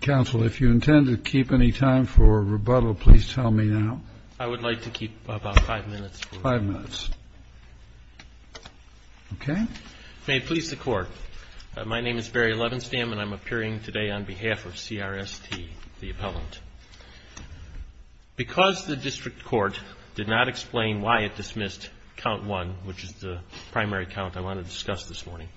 Council, if you intend to keep any time for rebuttal, please tell me now. I would like to keep about five minutes. Five minutes. Okay. May it please the Court, my name is Barry Levenstam and I'm appearing today on behalf of CRST, the appellant. Because the district court did not explain why it dismissed count one, which is the primary count I want to discuss this morning,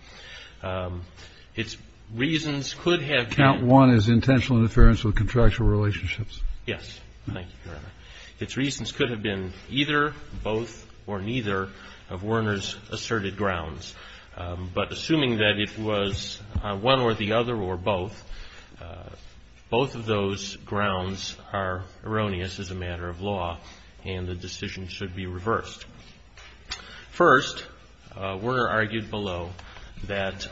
its reasons could have been. Count one is intentional interference with contractual relationships. Yes. Thank you, Your Honor. Its reasons could have been either, both, or neither of Werner's asserted grounds. But assuming that it was one or the other or both, both of those grounds are erroneous as a matter of law and the decision should be reversed. First, Werner argued below that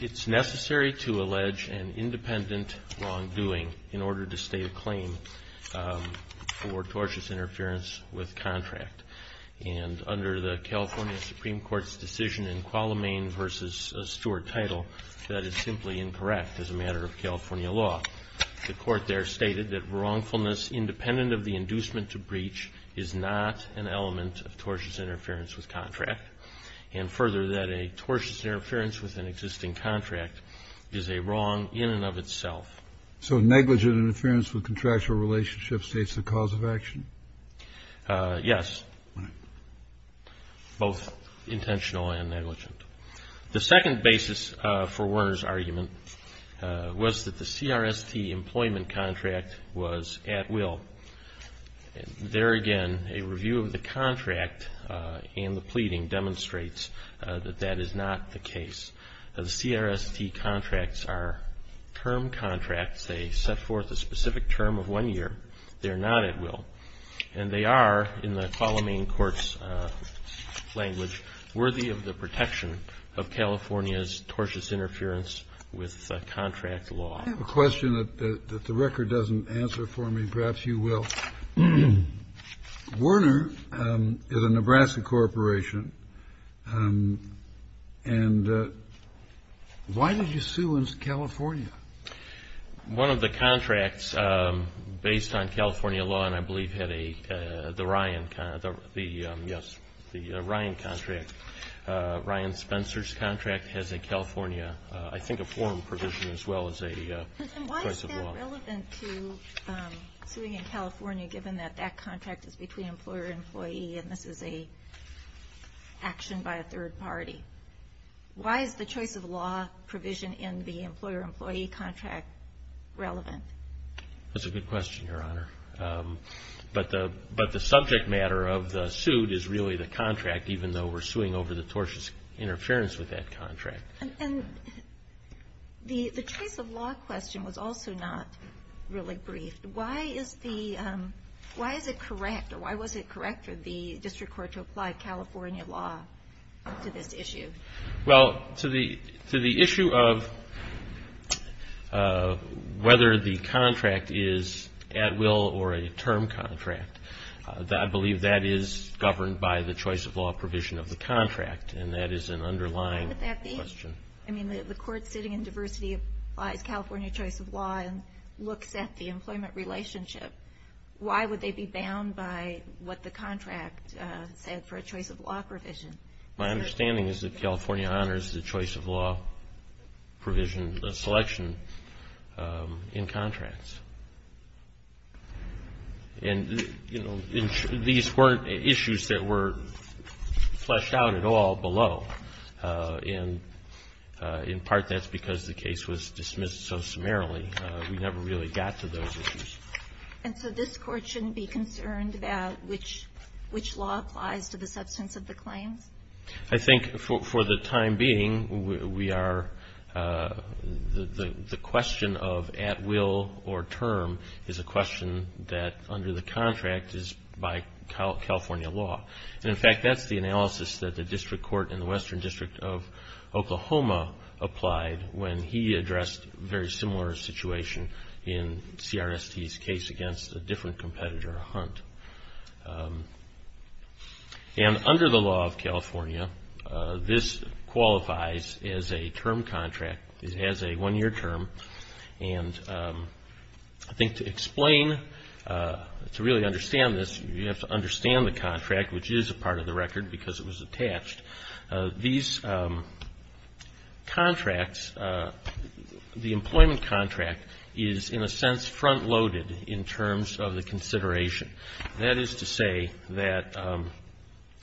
it's necessary to allege an independent wrongdoing in order to state a claim for tortious interference with contract. And under the California Supreme Court's decision in Qualamain v. Stewart title, that is simply incorrect as a matter of California law. The Court there stated that wrongfulness independent of the inducement to breach is not an element of tortious interference with contract. And further, that a tortious interference with an existing contract is a wrong in and of itself. So negligent interference with contractual relationships states the cause of action? Yes. Right. Both intentional and negligent. The second basis for Werner's argument was that the CRST employment contract was at will. There again, a review of the contract and the pleading demonstrates that that is not the case. The CRST contracts are term contracts. They set forth a specific term of one year. They are not at will. And they are, in the Qualamain court's language, worthy of the protection of California's tortious interference with contract law. I have a question that the record doesn't answer for me. Perhaps you will. Werner is a Nebraska corporation. And why did you sue in California? One of the contracts based on California law, and I believe had the Ryan contract, Ryan Spencer's contract, has a California, I think, a form provision as well as a choice of law. Why is that relevant to suing in California, given that that contract is between employer and employee and this is an action by a third party? Why is the choice of law provision in the employer-employee contract relevant? That's a good question, Your Honor. But the subject matter of the suit is really the contract, even though we're suing over the tortious interference with that contract. And the choice of law question was also not really briefed. Why is it correct, or why was it correct for the district court to apply California law to this issue? Well, to the issue of whether the contract is at will or a term contract, I believe that is governed by the choice of law provision of the contract, and that is an underlying question. I mean, the court sitting in diversity applies California choice of law and looks at the employment relationship. Why would they be bound by what the contract said for a choice of law provision? My understanding is that California honors the choice of law provision selection in contracts. And, you know, these weren't issues that were fleshed out at all below. And, in part, that's because the case was dismissed so summarily. We never really got to those issues. And so this Court shouldn't be concerned about which law applies to the substance of the claims? I think, for the time being, we are the question of at will or term is a question that, under the contract, is by California law. And, in fact, that's the analysis that the district court in the Western District of Oklahoma applied when he addressed a very similar situation in CRST's case against a different competitor, Hunt. And under the law of California, this qualifies as a term contract, as a one-year term. And I think to explain, to really understand this, you have to understand the contract, which is a part of the record because it was attached. These contracts, the employment contract, is, in a sense, front-loaded in terms of the consideration. That is to say that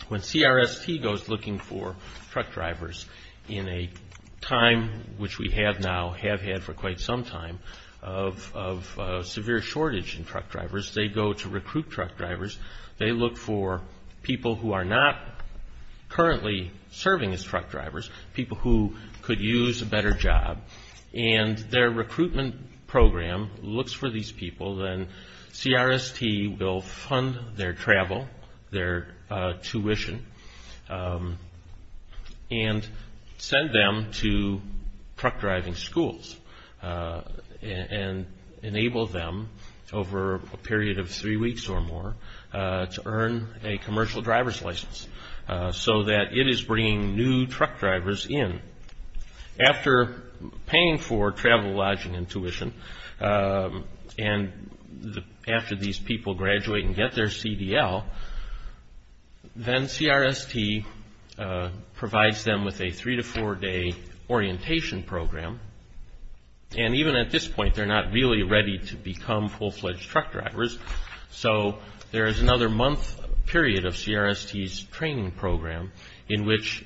when CRST goes looking for truck drivers in a time, which we have now, have had for quite some time, of severe shortage in truck drivers, they go to recruit truck drivers. They look for people who are not currently serving as truck drivers, people who could use a better job. And their recruitment program looks for these people. Then CRST will fund their travel, their tuition, and send them to truck driving schools and enable them, over a period of three weeks or more, to earn a commercial driver's license so that it is bringing new truck drivers in. After paying for travel, lodging, and tuition, and after these people graduate and get their CDL, then CRST provides them with a three- to four-day orientation program. And even at this point, they're not really ready to become full-fledged truck drivers. So there is another month period of CRST's training program in which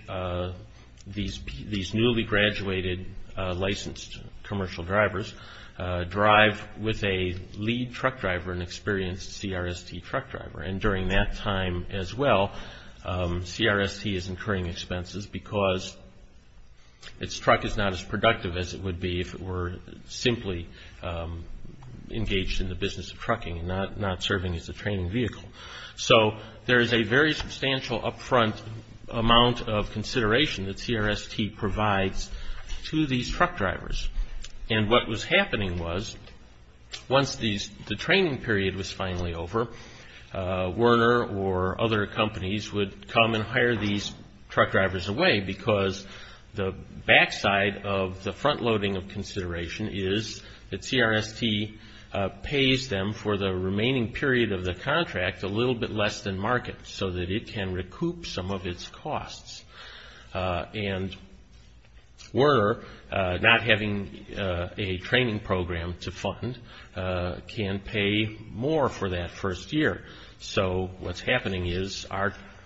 these newly graduated licensed commercial drivers drive with a lead truck driver, an experienced CRST truck driver. And during that time as well, CRST is incurring expenses because its truck is not as productive as it would be if it were simply engaged in the business of trucking and not serving as a training vehicle. So there is a very substantial upfront amount of consideration that CRST provides to these truck drivers. And what was happening was, once the training period was finally over, Werner or other companies would come and hire these truck drivers away because the backside of the front-loading of consideration is that CRST pays them for the remaining period of the contract a little bit less than market so that it can recoup some of its costs. And Werner, not having a training program to fund, can pay more for that first year. So what's happening is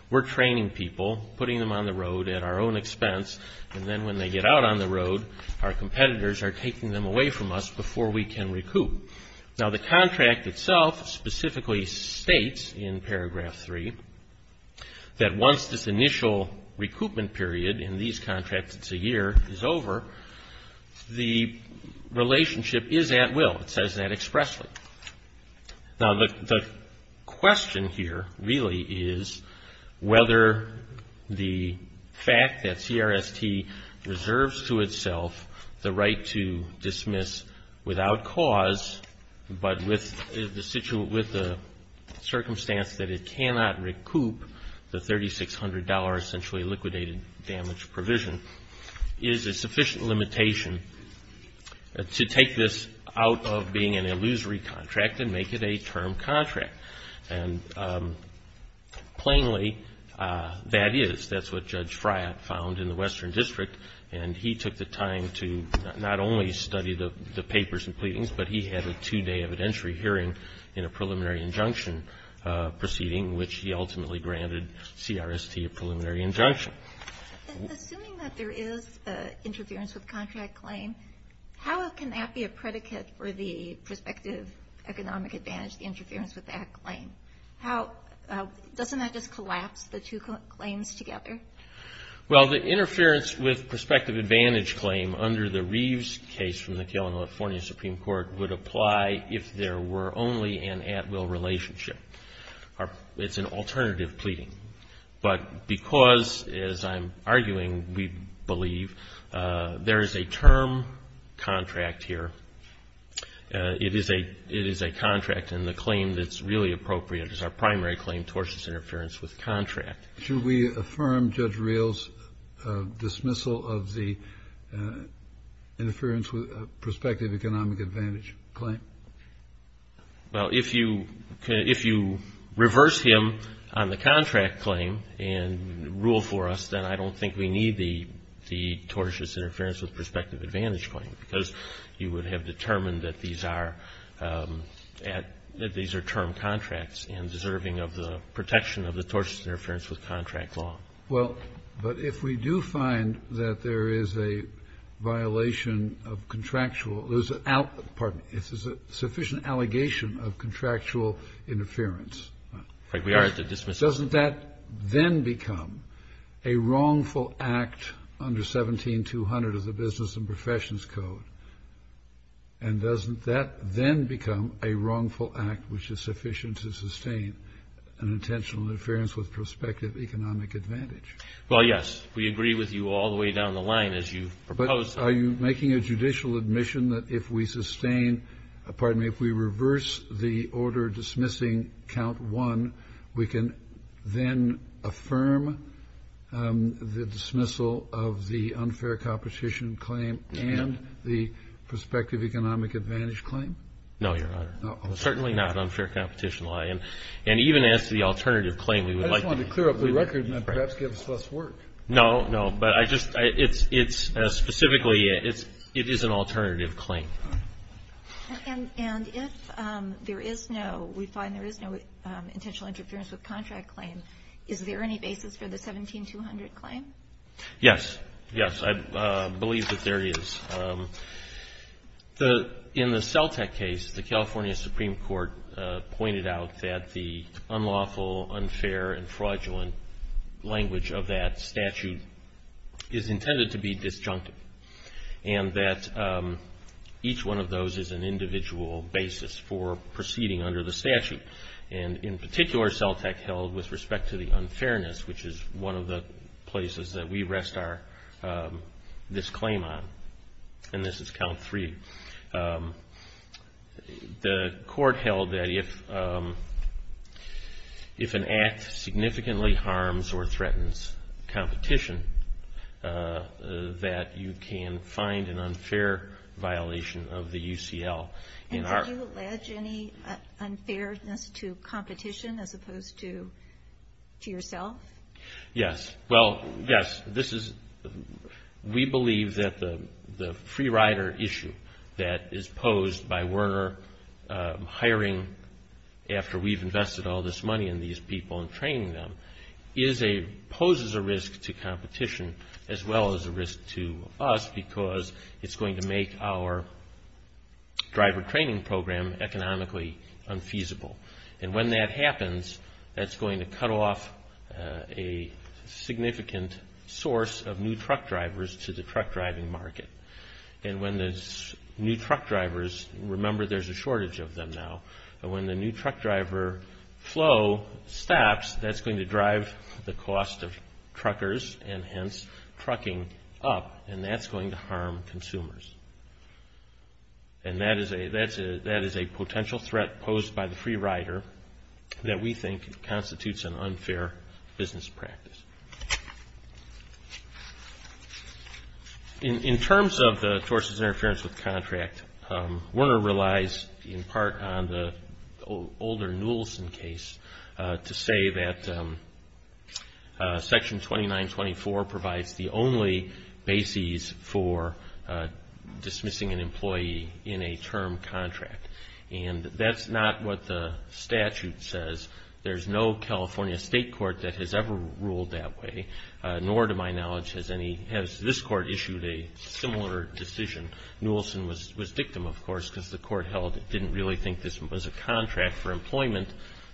we're training people, putting them on the road at our own expense, and then when they get out on the road, our competitors are taking them away from us before we can recoup. Now, the contract itself specifically states in paragraph three that once this initial recoupment period in these contracts, it's a year, is over, the relationship is at will. It says that expressly. Now, the question here really is whether the fact that CRST reserves to itself the right to dismiss without cause but with the circumstance that it cannot recoup the $3,600 essentially liquidated damage provision, is a sufficient limitation to take this out of being an illusory contract and make it a term contract. And plainly, that is. That's what Judge Friot found in the Western District, and he took the time to not only study the papers and pleadings, but he had a two-day evidentiary hearing in a preliminary injunction proceeding in which he ultimately granted CRST a preliminary injunction. Assuming that there is interference with contract claim, how can that be a predicate for the prospective economic advantage interference with that claim? Doesn't that just collapse the two claims together? Well, the interference with prospective advantage claim under the Reeves case from the California Supreme Court would apply if there were only an at-will relationship. It's an alternative pleading. But because, as I'm arguing, we believe there is a term contract here, it is a contract and the claim that's really appropriate is our primary claim, tortious interference with contract. Should we affirm Judge Reel's dismissal of the interference with prospective economic advantage claim? Well, if you reverse him on the contract claim and rule for us, then I don't think we need the tortious interference with prospective advantage claim, because you would have determined that these are term contracts and deserving of the protection of the tortious interference with contract law. Well, but if we do find that there is a violation of contractual There's a sufficient allegation of contractual interference. We are at the dismissal. Doesn't that then become a wrongful act under 17200 of the Business and Professions Code? And doesn't that then become a wrongful act which is sufficient to sustain an intentional interference with prospective economic advantage? Well, yes. We agree with you all the way down the line as you propose. Are you making a judicial admission that if we sustain pardon me, if we reverse the order dismissing count one, we can then affirm the dismissal of the unfair competition claim and the prospective economic advantage claim? No, Your Honor. Certainly not unfair competition. And even as the alternative claim, we would like to clear up the record and perhaps give us less work. No, no. But I just, it's specifically, it is an alternative claim. And if there is no, we find there is no intentional interference with contract claim, is there any basis for the 17200 claim? Yes. Yes. I believe that there is. In the CELTEC case, the California Supreme Court pointed out that the unlawful, unfair, and fraudulent language of that statute is intended to be disjunctive. And that each one of those is an individual basis for proceeding under the statute. And in particular, CELTEC held with respect to the unfairness, which is one of the places that we rest our, this claim on. And this is count three. The court held that if an act significantly harms or threatens competition, that you can find an unfair violation of the UCL. And do you allege any unfairness to competition as opposed to yourself? Yes. Well, yes. This is, we believe that the free rider issue that is posed by Werner hiring after we've invested all this money in these people and training them, is a, poses a risk to competition as well as a risk to us because it's going to make our driver training program economically unfeasible. And when that happens, that's going to cut off a significant source of new truck drivers to the truck driving market. And when there's new truck drivers, remember there's a shortage of them now, but when the new truck driver flow stops, that's going to drive the cost of truckers and hence trucking up, and that's going to harm consumers. And that is a potential threat posed by the free rider that we think constitutes an unfair business practice. In terms of the tortious interference with contract, Werner relies in part on the older Newelson case to say that Section 2924 provides the only basis for dismissing an employee in a term contract. And that's not what the statute says. There's no California state court that has ever ruled that way, nor to my knowledge has any, has this court issued a similar decision. Newelson was victim, of course, because the court held it didn't really think this was a contract for employment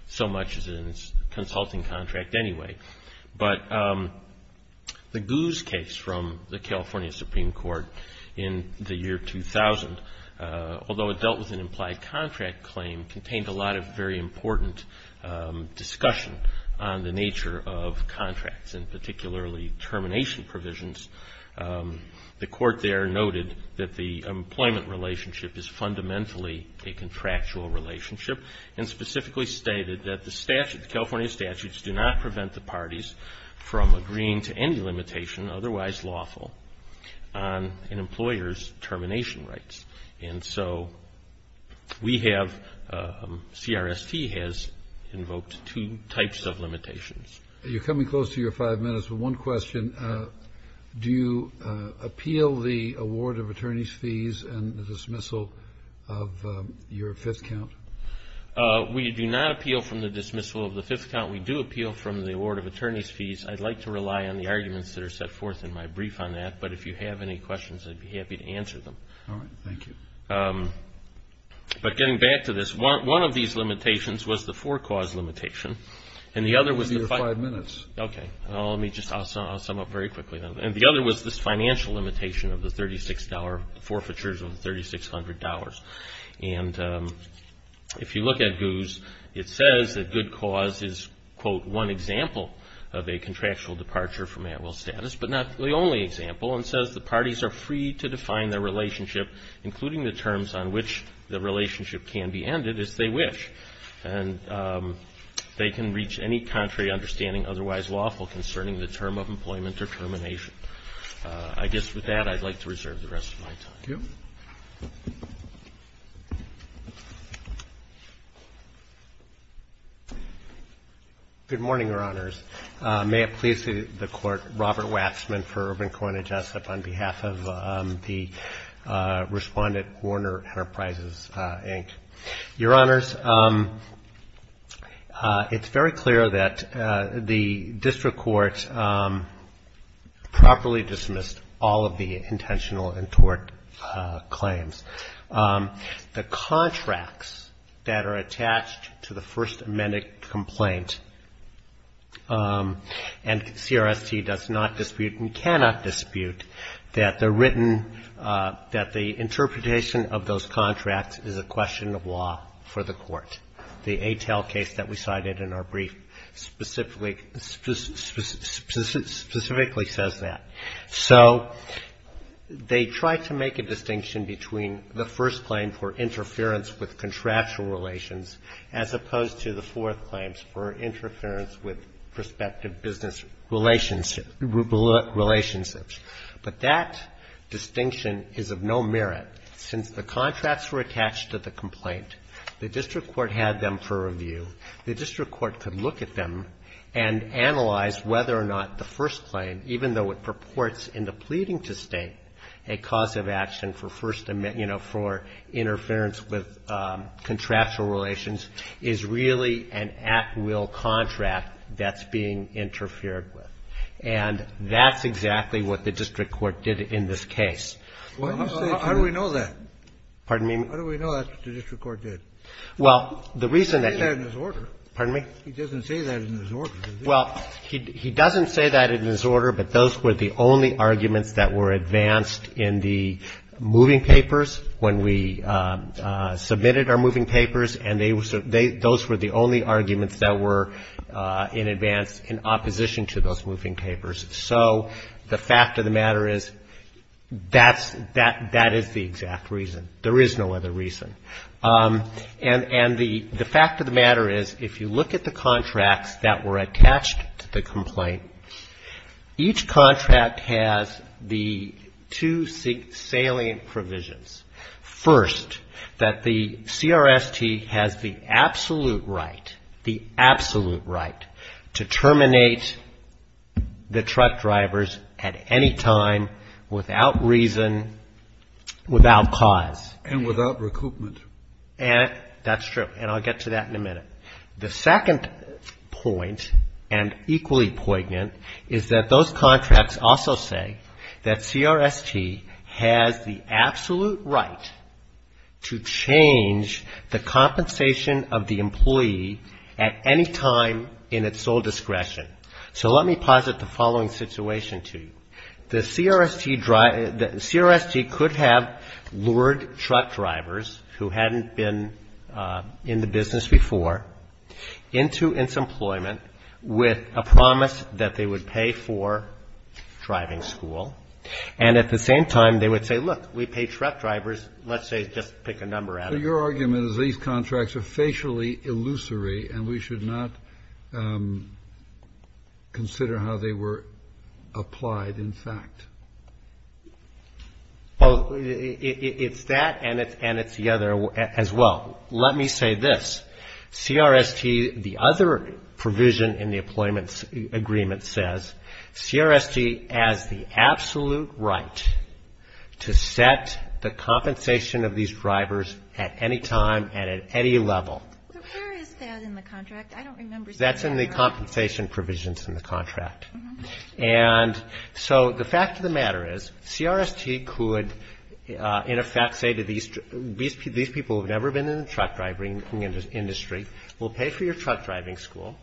so much as a consulting contract anyway. But the Guz case from the California Supreme Court in the year 2000, although it dealt with an implied contract claim, contained a lot of very important discussion on the nature of contracts and particularly termination provisions. The court there noted that the employment relationship is fundamentally a contractual relationship and specifically stated that the California statutes do not prevent the parties from agreeing to any limitation otherwise lawful on an employer's termination rights. And so we have, CRST has invoked two types of limitations. You're coming close to your five minutes, but one question. Do you appeal the award of attorney's fees and the dismissal of your fifth count? We do not appeal from the dismissal of the fifth count. We do appeal from the award of attorney's fees. I'd like to rely on the arguments that are set forth in my brief on that, but if you have any questions, I'd be happy to answer them. All right, thank you. But getting back to this, one of these limitations was the four cause limitation, and the other was the five minutes. Okay, let me just sum up very quickly. And the other was this financial limitation of the $3,600, forfeitures of $3,600. And if you look at GOOS, it says that good cause is, quote, one example of a contractual departure from at-will status, but not the only example. It says the parties are free to define their relationship, including the terms on which the relationship can be ended as they wish. And they can reach any contrary understanding, otherwise lawful concerning the term of employment or termination. I guess with that, I'd like to reserve the rest of my time. Thank you. Good morning, Your Honors. May it please the Court, Robert Watzman for Urban Coinage, on behalf of the Respondent Warner Enterprises, Inc. Your Honors, it's very clear that the district court properly dismissed all of the intentional and tort claims. The contracts that are attached to the first amended complaint, and CRST does not dispute and cannot dispute that they're written, that the interpretation of those contracts is a question of law for the court. The ATEL case that we cited in our brief specifically says that. So they tried to make a distinction between the first claim for interference with contractual relations, as opposed to the fourth claims for interference with prospective business relationships. But that distinction is of no merit. Since the contracts were attached to the complaint, the district court had them for review. The district court could look at them and analyze whether or not the first claim, even though it purports in the pleading to State, a cause of action for first, you know, for interference with contractual relations, is really an at-will contract that's being interfered with. And that's exactly what the district court did in this case. Kennedy. Well, how do we know that? Waxman. Pardon me? Kennedy. How do we know that's what the district court did? Waxman. Well, the reason that you ---- Kennedy. He doesn't say that in his order. Waxman. Pardon me? Kennedy. He doesn't say that in his order, does he? Waxman. Well, he doesn't say that in his order, but those were the only arguments that were advanced in the moving papers when we submitted our moving papers, and those were the only arguments that were in advance in opposition to those moving papers. So the fact of the matter is that's the exact reason. There is no other reason. And the fact of the matter is if you look at the contracts that were attached to the complaint, each contract has the two salient provisions. First, that the CRST has the absolute right, the absolute right, to terminate the truck drivers at any time without reason, without cause. And without recoupment. And that's true. And I'll get to that in a minute. The second point, and equally poignant, is that those contracts also say that CRST has the absolute right to change the compensation of the employee at any time in its sole discretion. So let me posit the following situation to you. The CRST could have lured truck drivers who hadn't been in the business before into its employment with a promise that they would pay for driving school. And at the same time, they would say, look, we pay truck drivers, let's say just pick a number out of it. Well, it's that and it's the other as well. Let me say this. CRST, the other provision in the employment agreement says, CRST has the absolute right to set the compensation of these drivers at any time and at any level. But where is that in the contract? I don't remember seeing that. That's in the compensation provisions in the contract. And so the fact of the matter is CRST could, in effect, say to these people who have never been in the truck driving industry, we'll pay for your truck driving school.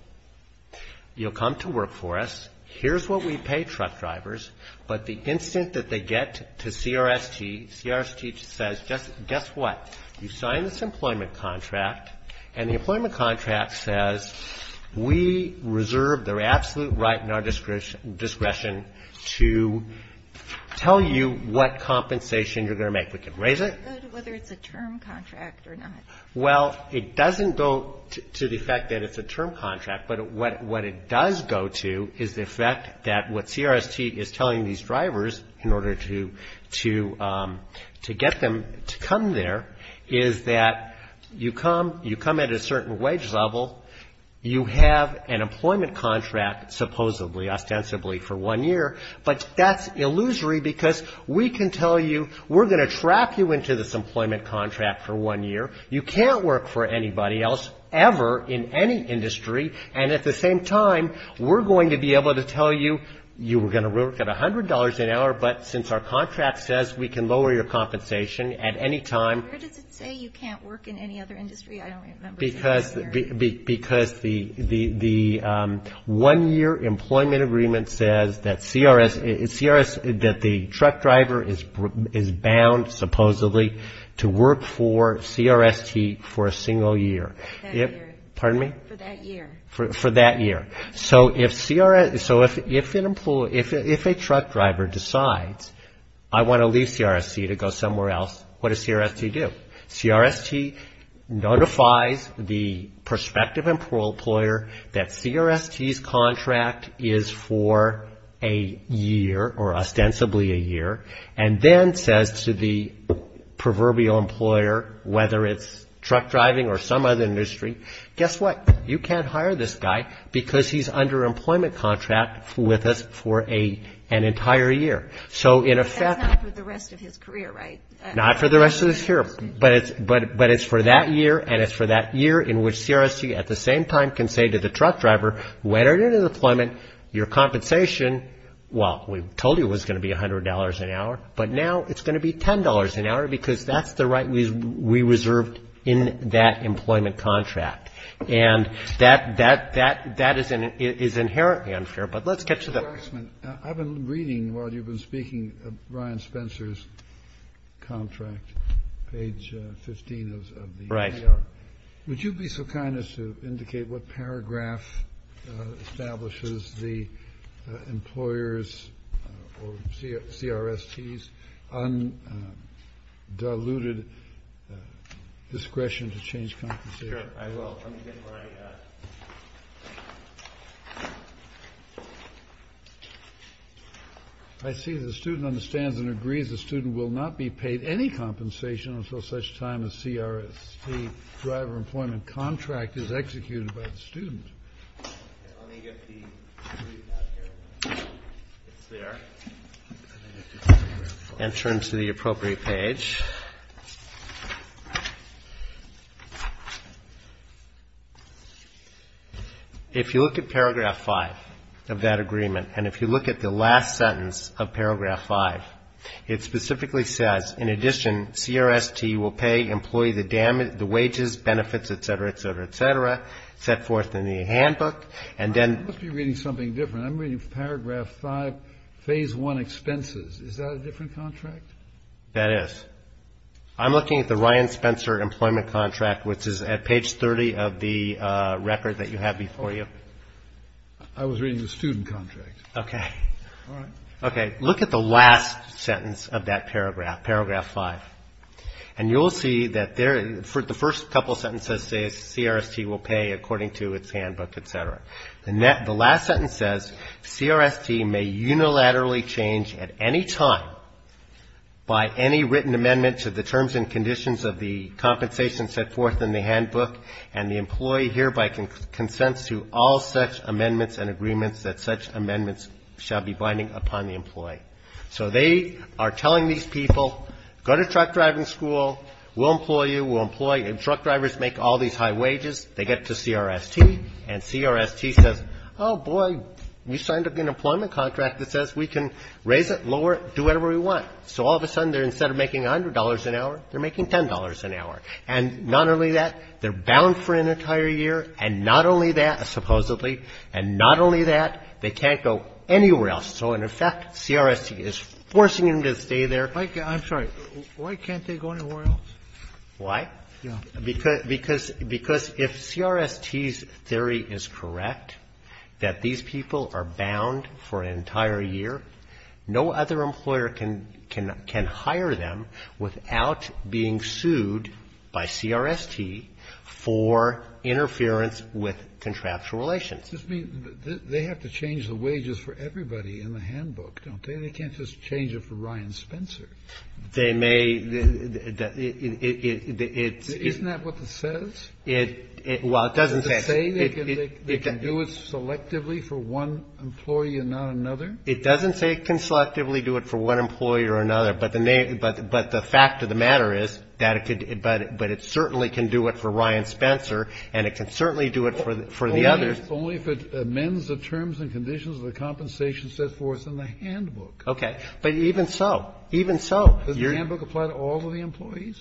You'll come to work for us. Here's what we pay truck drivers. But the instant that they get to CRST, CRST says, guess what? You sign this employment contract. And the employment contract says we reserve their absolute right and our discretion to tell you what compensation you're going to make. We can raise it. Whether it's a term contract or not. Well, it doesn't go to the fact that it's a term contract. But what it does go to is the fact that what CRST is telling these drivers in order to get them to come there, is that you come at a certain wage level. You have an employment contract supposedly, ostensibly for one year. But that's illusory because we can tell you we're going to trap you into this employment contract for one year. You can't work for anybody else ever in any industry. And at the same time, we're going to be able to tell you you were going to work at $100 an hour, but since our contract says we can lower your compensation at any time. Where does it say you can't work in any other industry? I don't remember. Because the one-year employment agreement says that the truck driver is bound supposedly to work for CRST for a single year. For that year. Pardon me? For that year. For that year. So if a truck driver decides I want to leave CRST to go somewhere else, what does CRST do? CRST notifies the prospective employer that CRST's contract is for a year or ostensibly a year, and then says to the proverbial employer, whether it's truck driving or some other industry, guess what? You can't hire this guy because he's under employment contract with us for an entire year. So in effect. That's not for the rest of his career, right? Not for the rest of his career. But it's for that year, and it's for that year in which CRST at the same time can say to the truck driver, when are you going to deployment your compensation? Well, we told you it was going to be $100 an hour, but now it's going to be $10 an hour because that's the right we reserved in that employment contract. And that is inherently unfair. But let's get to that. I've been reading while you've been speaking of Ryan Spencer's contract, page 15 of the AR. Right. Would you be so kind as to indicate what paragraph establishes the employer's or CRST's undiluted discretion to change compensation? I will. Let me get my. I see the student understands and agrees the student will not be paid any compensation until such time as CRST driver employment contract is executed by the student. Let me get the. It's there. Enter him to the appropriate page. If you look at paragraph 5 of that agreement, and if you look at the last sentence of paragraph 5, it specifically says, in addition, CRST will pay employee the wages, benefits, et cetera, et cetera, et cetera, set forth in the handbook. And then. I must be reading something different. I'm reading paragraph 5, phase 1 expenses. Is that a different contract? That is. I'm looking at the Ryan Spencer employment contract, which is at page 30 of the record that you have before you. I was reading the student contract. Okay. All right. Okay. Look at the last sentence of that paragraph, paragraph 5, and you'll see that the first couple sentences say CRST will pay according to its handbook, et cetera. The last sentence says CRST may unilaterally change at any time by any written amendment to the terms and conditions of the compensation set forth in the handbook, and the employee hereby consents to all such amendments and agreements that such amendments shall be binding upon the employee. So they are telling these people, go to truck driving school. We'll employ you. We'll employ you. Truck drivers make all these high wages. They get to CRST, and CRST says, oh, boy, we signed up an employment contract that says we can raise it, lower it, do whatever we want. So all of a sudden, instead of making $100 an hour, they're making $10 an hour. And not only that, they're bound for an entire year, and not only that, supposedly, and not only that, they can't go anywhere else. So in effect, CRST is forcing them to stay there. Kennedy, I'm sorry. Why can't they go anywhere else? Why? Because if CRST's theory is correct, that these people are bound for an entire year, no other employer can hire them without being sued by CRST for interference with contractual relations. This means they have to change the wages for everybody in the handbook, don't they? They can't just change it for Ryan Spencer. They may. Isn't that what it says? Well, it doesn't say. Does it say they can do it selectively for one employee and not another? It doesn't say it can selectively do it for one employee or another, but the fact of the matter is that it could but it certainly can do it for Ryan Spencer, and it can certainly do it for the others. It's only if it amends the terms and conditions of the compensation set forth in the handbook. Okay. But even so, even so. Does the handbook apply to all of the employees?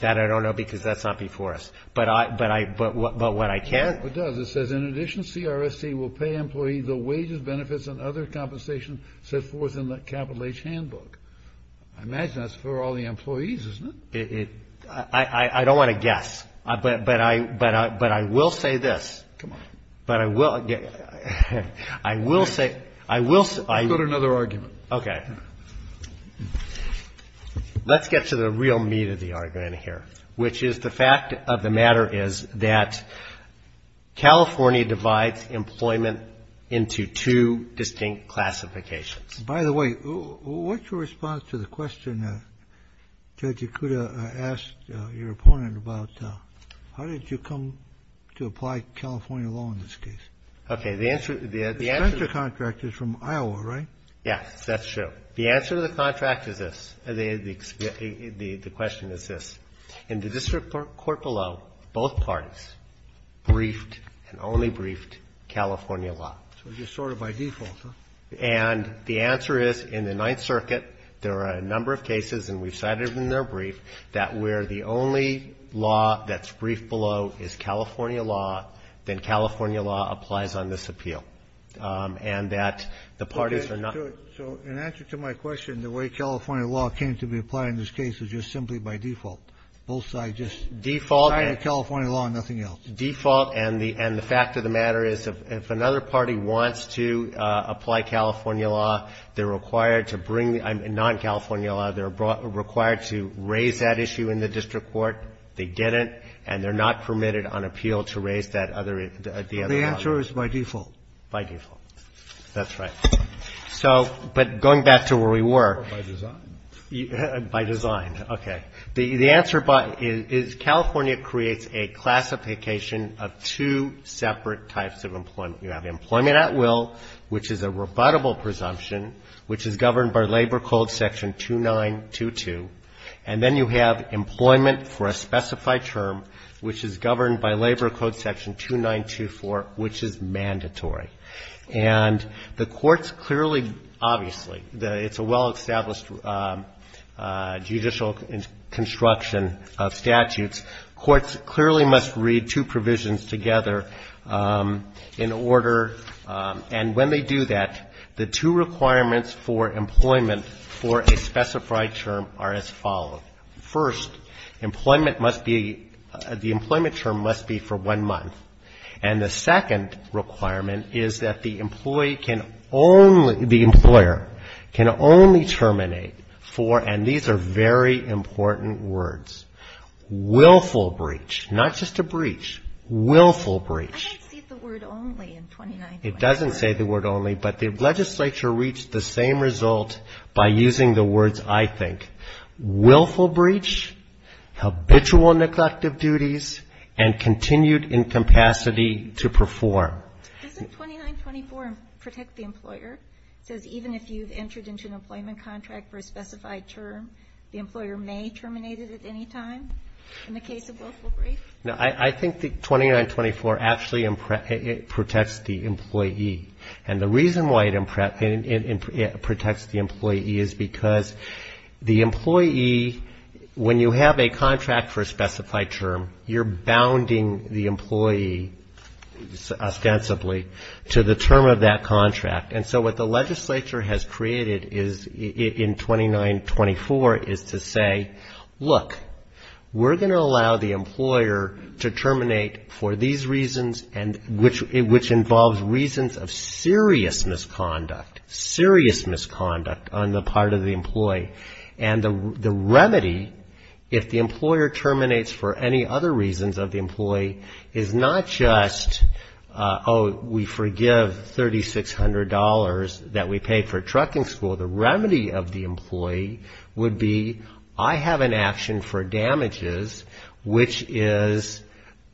That I don't know because that's not before us. But what I can. It does. It says, in addition, CRST will pay employees the wages, benefits, and other compensation set forth in the capital H handbook. I imagine that's for all the employees, isn't it? I don't want to guess, but I will say this. Come on. But I will say. I will say. Go to another argument. Okay. Let's get to the real meat of the argument here, which is the fact of the matter is that California divides employment into two distinct classifications. By the way, what's your response to the question Judge Ikuda asked your opponent about how did you come to apply California law in this case? Okay. The answer to the contract is from Iowa, right? Yes, that's true. The answer to the contract is this. The question is this. In the district court below, both parties briefed and only briefed California law. So just sort of by default, huh? And the answer is in the Ninth Circuit there are a number of cases, and we've cited them in their brief, that where the only law that's briefed below is California law, then California law applies on this appeal. And that the parties are not going to do it. So in answer to my question, the way California law came to be applied in this case is just simply by default. Both sides just signed the California law and nothing else. Default and the fact of the matter is if another party wants to apply California law, they're required to bring non-California law. They're required to raise that issue in the district court. They didn't, and they're not permitted on appeal to raise that other law. The answer is by default. By default. That's right. So, but going back to where we were. By design. By design. Okay. The answer is California creates a classification of two separate types of employment. You have employment at will, which is a rebuttable presumption, which is governed by Labor Code section 2922, and then you have employment for a specified term, which is governed by Labor Code section 2924, which is mandatory. And the courts clearly, obviously, it's a well-established judicial construction of statutes. Courts clearly must read two provisions together in order, and when they do that, the two requirements for employment for a specified term are as follows. First, employment must be, the employment term must be for one month. And the second requirement is that the employee can only, the employer can only terminate for, and these are very important words, willful breach. Not just a breach. Willful breach. I didn't see the word only in 2924. It doesn't say the word only, but the legislature reached the same result by using the words, I think. Willful breach, habitual neglect of duties, and continued incapacity to perform. Does the 2924 protect the employer? It says even if you've entered into an employment contract for a specified term, the employer may terminate it at any time in the case of willful breach? No, I think the 2924 actually protects the employee. And the reason why it protects the employee is because the employee, when you have a contract for a specified term, you're bounding the employee ostensibly to the term of that contract. And so what the legislature has created in 2924 is to say, look, we're going to allow the employer to terminate for these reasons, which involves reasons of serious misconduct, serious misconduct on the part of the employee. And the remedy, if the employer terminates for any other reasons of the employee, is not just, oh, we forgive $3,600 that we paid for trucking school. So the remedy of the employee would be, I have an action for damages, which is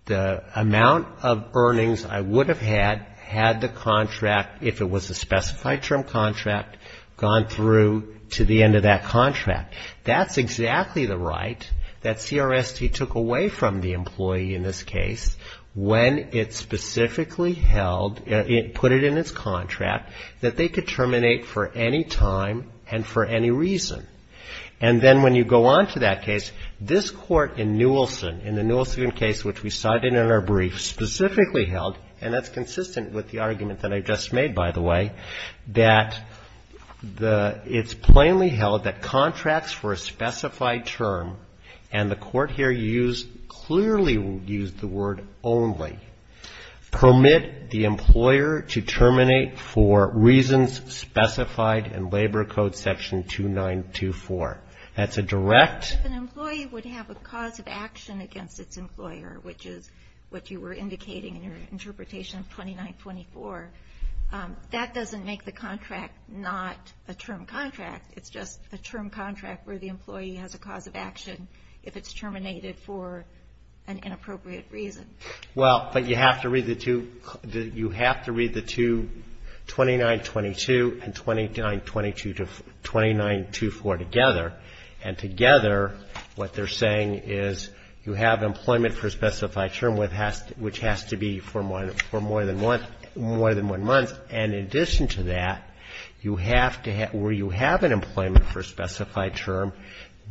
the amount of earnings I would have had had the contract, if it was a specified term contract, gone through to the end of that contract. That's exactly the right that CRST took away from the employee in this case when it specifically put it in its contract that they could terminate for any time and for any reason. And then when you go on to that case, this court in Newilson, in the Newilson case, which we cited in our brief, specifically held, and that's consistent with the argument that I just made, by the way, that it's plainly held that contracts for a specified term, and the court here used, clearly used the word only, permit the employer to terminate for reasons specified in Labor Code section 2924. That's a direct... If an employee would have a cause of action against its employer, which is what you were indicating in your interpretation of 2924, that doesn't make the contract not a term contract. It's just a term contract where the employee has a cause of action if it's terminated for an inappropriate reason. You have to read the two, 2922 and 2924 together, and together what they're saying is you have employment for a specified term, which has to be for more than one month, and in addition to that, where you have an employment for a specified term,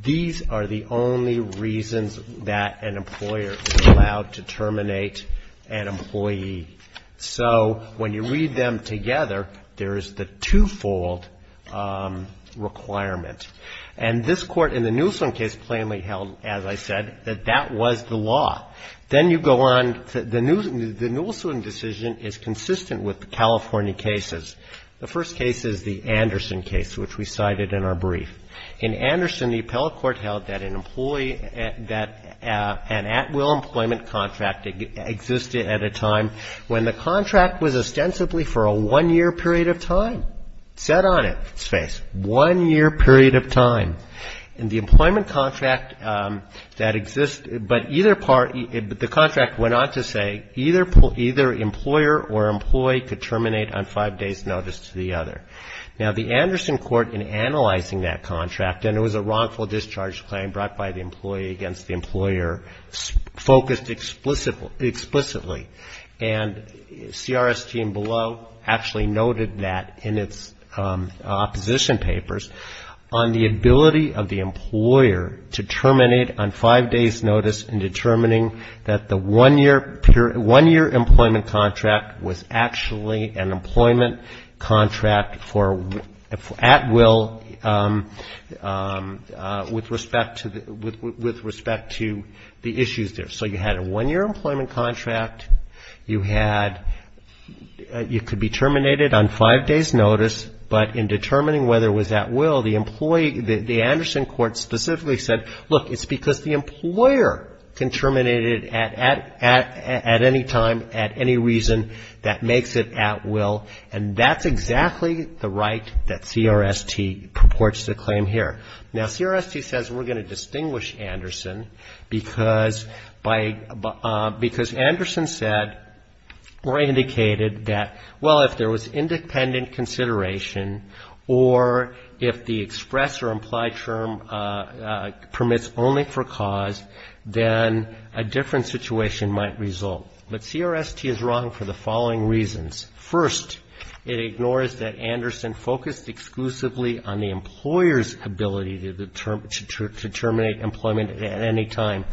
these are the only reasons that an employer is allowed to terminate an employee. So when you read them together, there is the twofold requirement, and this Court in the Newilson case plainly held, as I said, that that was the law. Then you go on to the Newilson decision is consistent with the California cases. The first case is the Anderson case, which we cited in our brief. In Anderson, the appellate court held that an employee, that an at-will employment contract existed at a time when the contract was ostensibly for a one-year period of time. It said on it, space, one-year period of time. And the employment contract that exists, but either part, the contract went on to say that either employer or employee could terminate on five days' notice to the other. Now, the Anderson court, in analyzing that contract, and it was a wrongful discharge claim brought by the employee against the employer, focused explicitly. And CRS team below actually noted that in its opposition papers, on the ability of the employer to terminate on five days' notice in determining that the one-year employment contract was actually an employment contract for at-will with respect to the issues there. So you had a one-year employment contract. You had you could be terminated on five days' notice, but in determining whether it was at-will, the employee, the Anderson court specifically said, look, it's because the employer can terminate it at any time, at any reason that makes it at-will. And that's exactly the right that CRST purports to claim here. Now, CRST says we're going to distinguish Anderson because Anderson said or indicated that, well, if there was independent consideration or if the express or implied term permits only for cause, then a different situation might result. But CRST is wrong for the following reasons. First, it ignores that Anderson focused exclusively on the employer's ability to terminate employment at any time,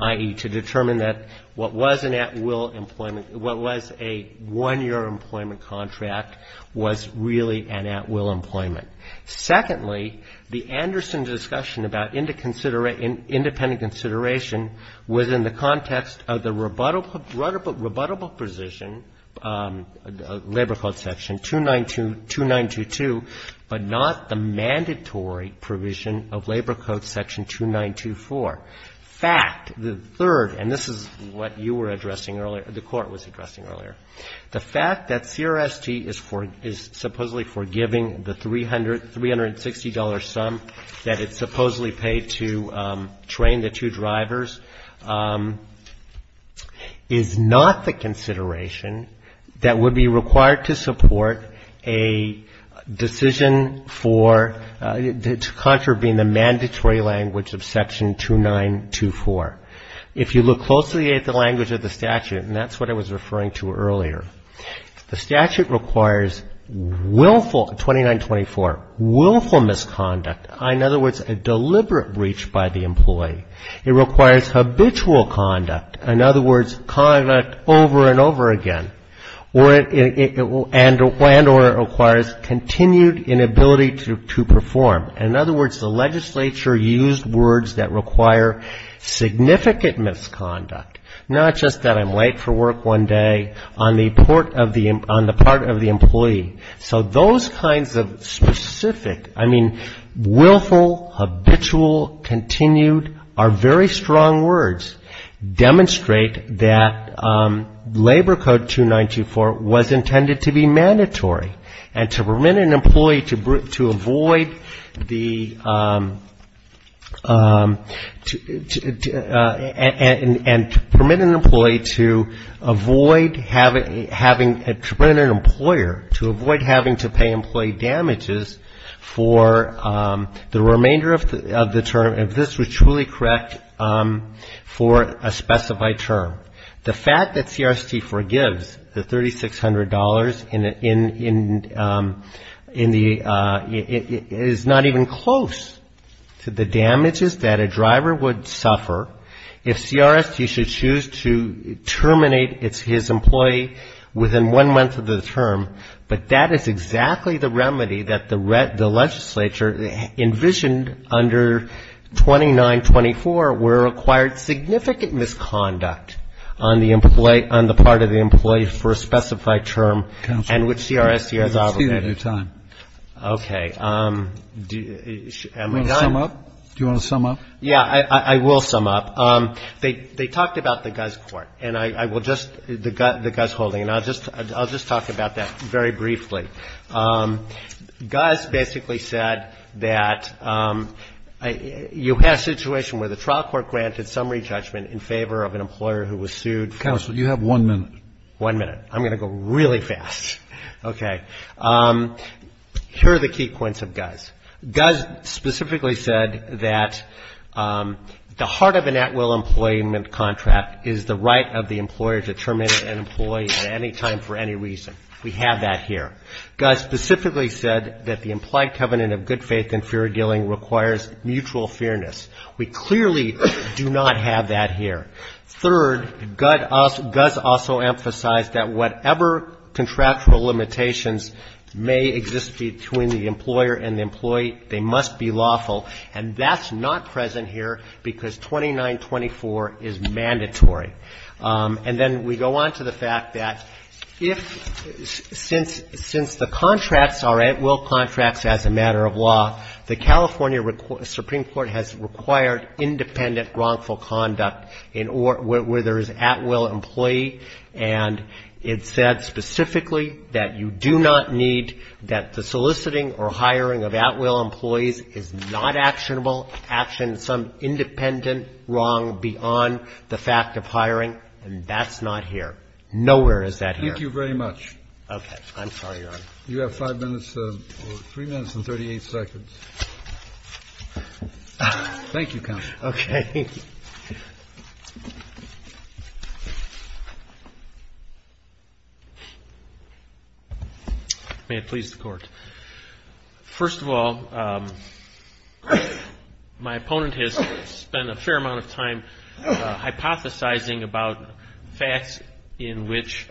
i.e., to determine that what was an at-will employment, what was a one-year employment contract was really an at-will employment. Secondly, the Anderson discussion about independent consideration was in the context of the rebuttable position, Labor Code Section 2922, but not the mandatory provision of Labor Code Section 2924. Fact, the third, and this is what you were addressing earlier, the Court was addressing earlier, the fact that CRST is supposedly forgiving the $360 sum that it supposedly paid to train the two drivers is not the consideration that would be required to support a decision for, to contravene the mandatory language of Section 2924. If you look closely at the language of the statute, and that's what I was referring to earlier, the statute requires willful, 2924, willful misconduct, in other words, a deliberate breach by the employee. It requires habitual conduct, in other words, conduct over and over again, and or it requires continued inability to perform. In other words, the legislature used words that require significant misconduct, not just that I'm late for work one day on the part of the employee. So those kinds of specific, I mean, willful, habitual, continued, are very strong words, demonstrate that Labor Code 2924 was intended to be mandatory and to permit an employee to avoid having, to permit an employer to avoid having to pay employee damages for the remainder of the term, if this was truly correct, for a specified term. The fact that CRST forgives the $3,600 in the, is not even considered a breach. It's been close to the damages that a driver would suffer if CRST should choose to terminate his employee within one month of the term, but that is exactly the remedy that the legislature envisioned under 2924, where it required significant misconduct on the part of the employee for a specified term, and which CRST has obligated. Do you want to sum up? Yeah, I will sum up. They talked about the Guz Court, and I will just, the Guz holding, and I'll just talk about that very briefly. Guz basically said that you have a situation where the trial court granted summary judgment in favor of an employee, and Guz specifically said that the heart of an at-will employment contract is the right of the employer to terminate an employee at any time for any reason. We have that here. Guz specifically said that the implied covenant of good faith and fair dealing requires mutual fairness. We clearly do not have that here. Third, Guz also emphasized that whatever contractual limitations may exist between the employer and the employee, they must be lawful, and that's not present here because 2924 is mandatory. And then we go on to the fact that if, since the contracts are at-will contracts as a matter of law, the California Supreme Court has required independent wrongful conduct in all of its cases where there is at-will employee, and it said specifically that you do not need, that the soliciting or hiring of at-will employees is not actionable, action some independent wrong beyond the fact of hiring, and that's not here. Nowhere is that here. Thank you very much. Okay. I'm sorry, Your Honor. You have 5 minutes, or 3 minutes and 38 seconds. Thank you, Counsel. Okay. May it please the Court. First of all, my opponent has spent a fair amount of time hypothesizing about facts in which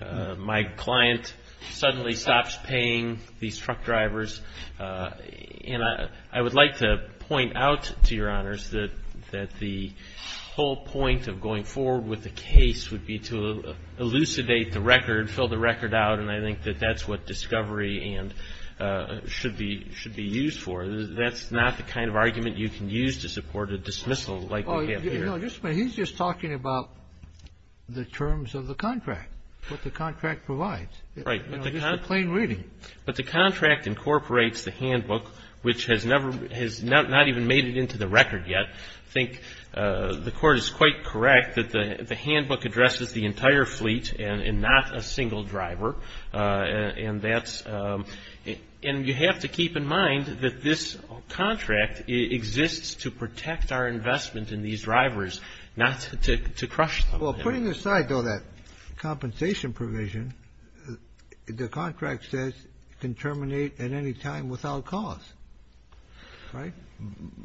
my client suddenly stops paying these truck drivers, and I would like to point out to Your Honors that the whole point of going forward with the case would be to elucidate the record, fill the record out, and I think that that's what discovery and should be used for. That's not the kind of argument you can use to support a dismissal like we have here. No, he's just talking about the terms of the contract, what the contract provides. Right. Just a plain reading. But the contract incorporates the handbook, which has not even made it into the record yet. I think the Court is quite correct that the handbook addresses the entire fleet and not a single driver, and that's what the handbook does. The handbook does not address the entire fleet and not a single driver, and that's what the handbook does. Well, putting aside, though, that compensation provision, the contract says can terminate at any time without cause. Right?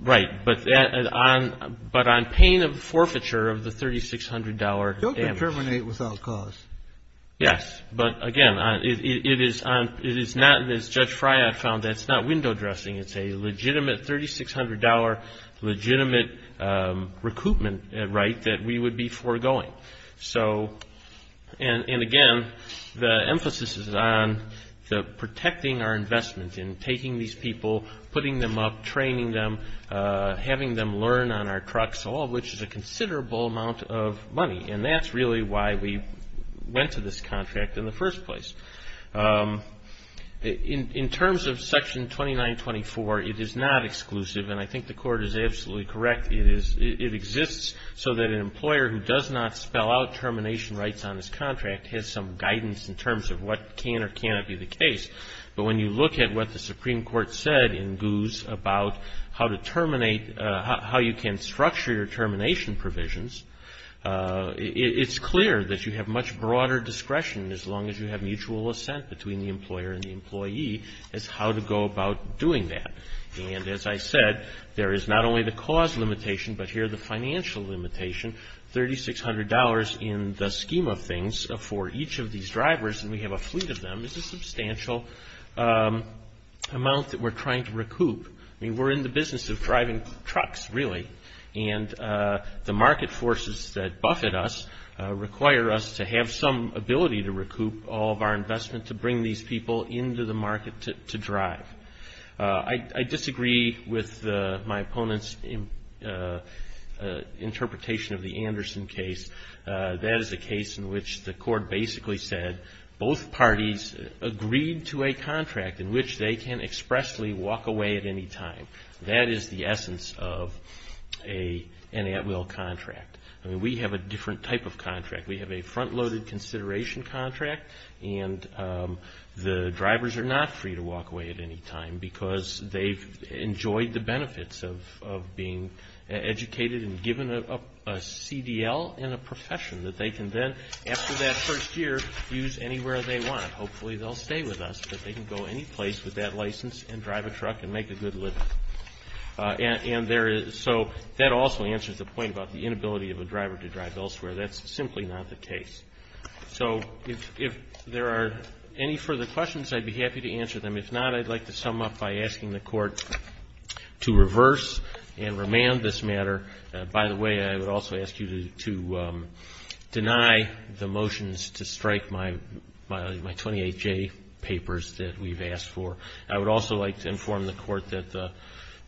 Right, but on pain of forfeiture of the $3,600. Right, that we would be foregoing. And again, the emphasis is on protecting our investment in taking these people, putting them up, training them, having them learn on our trucks, all of which is a considerable amount of money. And that's really why we went to this contract in the first place. In terms of Section 2924, it is not exclusive, and I think the Court is absolutely correct. It exists so that an employer who does not spell out termination rights on his contract has some guidance in terms of what can or cannot be the case. But when you look at what the Supreme Court said in Goose about how to terminate, how you can structure your termination provisions, it's clear that you have much broader discretion as long as you have mutual assent between the employer and the employee as how to go about doing that. Now, there is a financial limitation, but here the financial limitation, $3,600 in the scheme of things for each of these drivers, and we have a fleet of them, is a substantial amount that we're trying to recoup. I mean, we're in the business of driving trucks, really. And the market forces that buffet us require us to have some ability to recoup all of our investment to bring these people into the market to drive. Now, if you look at the interpretation of the Anderson case, that is a case in which the Court basically said both parties agreed to a contract in which they can expressly walk away at any time. That is the essence of an at-will contract. I mean, we have a different type of contract. We have a front-loaded consideration contract, and the drivers are not free to walk away at any time because they've enjoyed the experience, they've been educated and given a CDL and a profession that they can then, after that first year, use anywhere they want. Hopefully they'll stay with us, but they can go anyplace with that license and drive a truck and make a good living. And there is so that also answers the point about the inability of a driver to drive elsewhere. That's simply not the case. So if there are any further questions, I'd be happy to answer them. If not, I'd like to sum up by asking the Court to reverse and remand this matter. By the way, I would also ask you to deny the motions to strike my 28J papers that we've asked for. I would also like to inform the Court that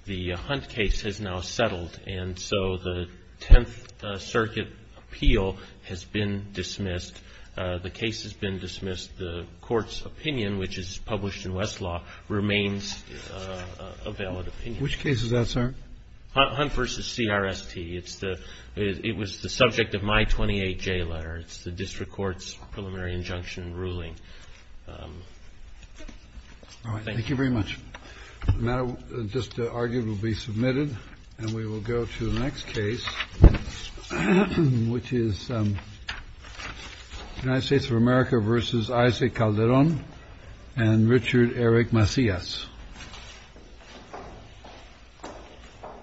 the Hunt case has now settled, and so the Tenth Circuit appeal has been dismissed. The case has been dismissed. The Court's opinion, which is published in Westlaw, remains a valid opinion. Which case is that, sir? Hunt v. CRST. It was the subject of my 28J letter. It's the district court's preliminary injunction ruling. Thank you very much. The matter just argued will be submitted, and we will go to the next case, which is United States of America v. Isaac Calderon and Richard Eric Macias. Thank you.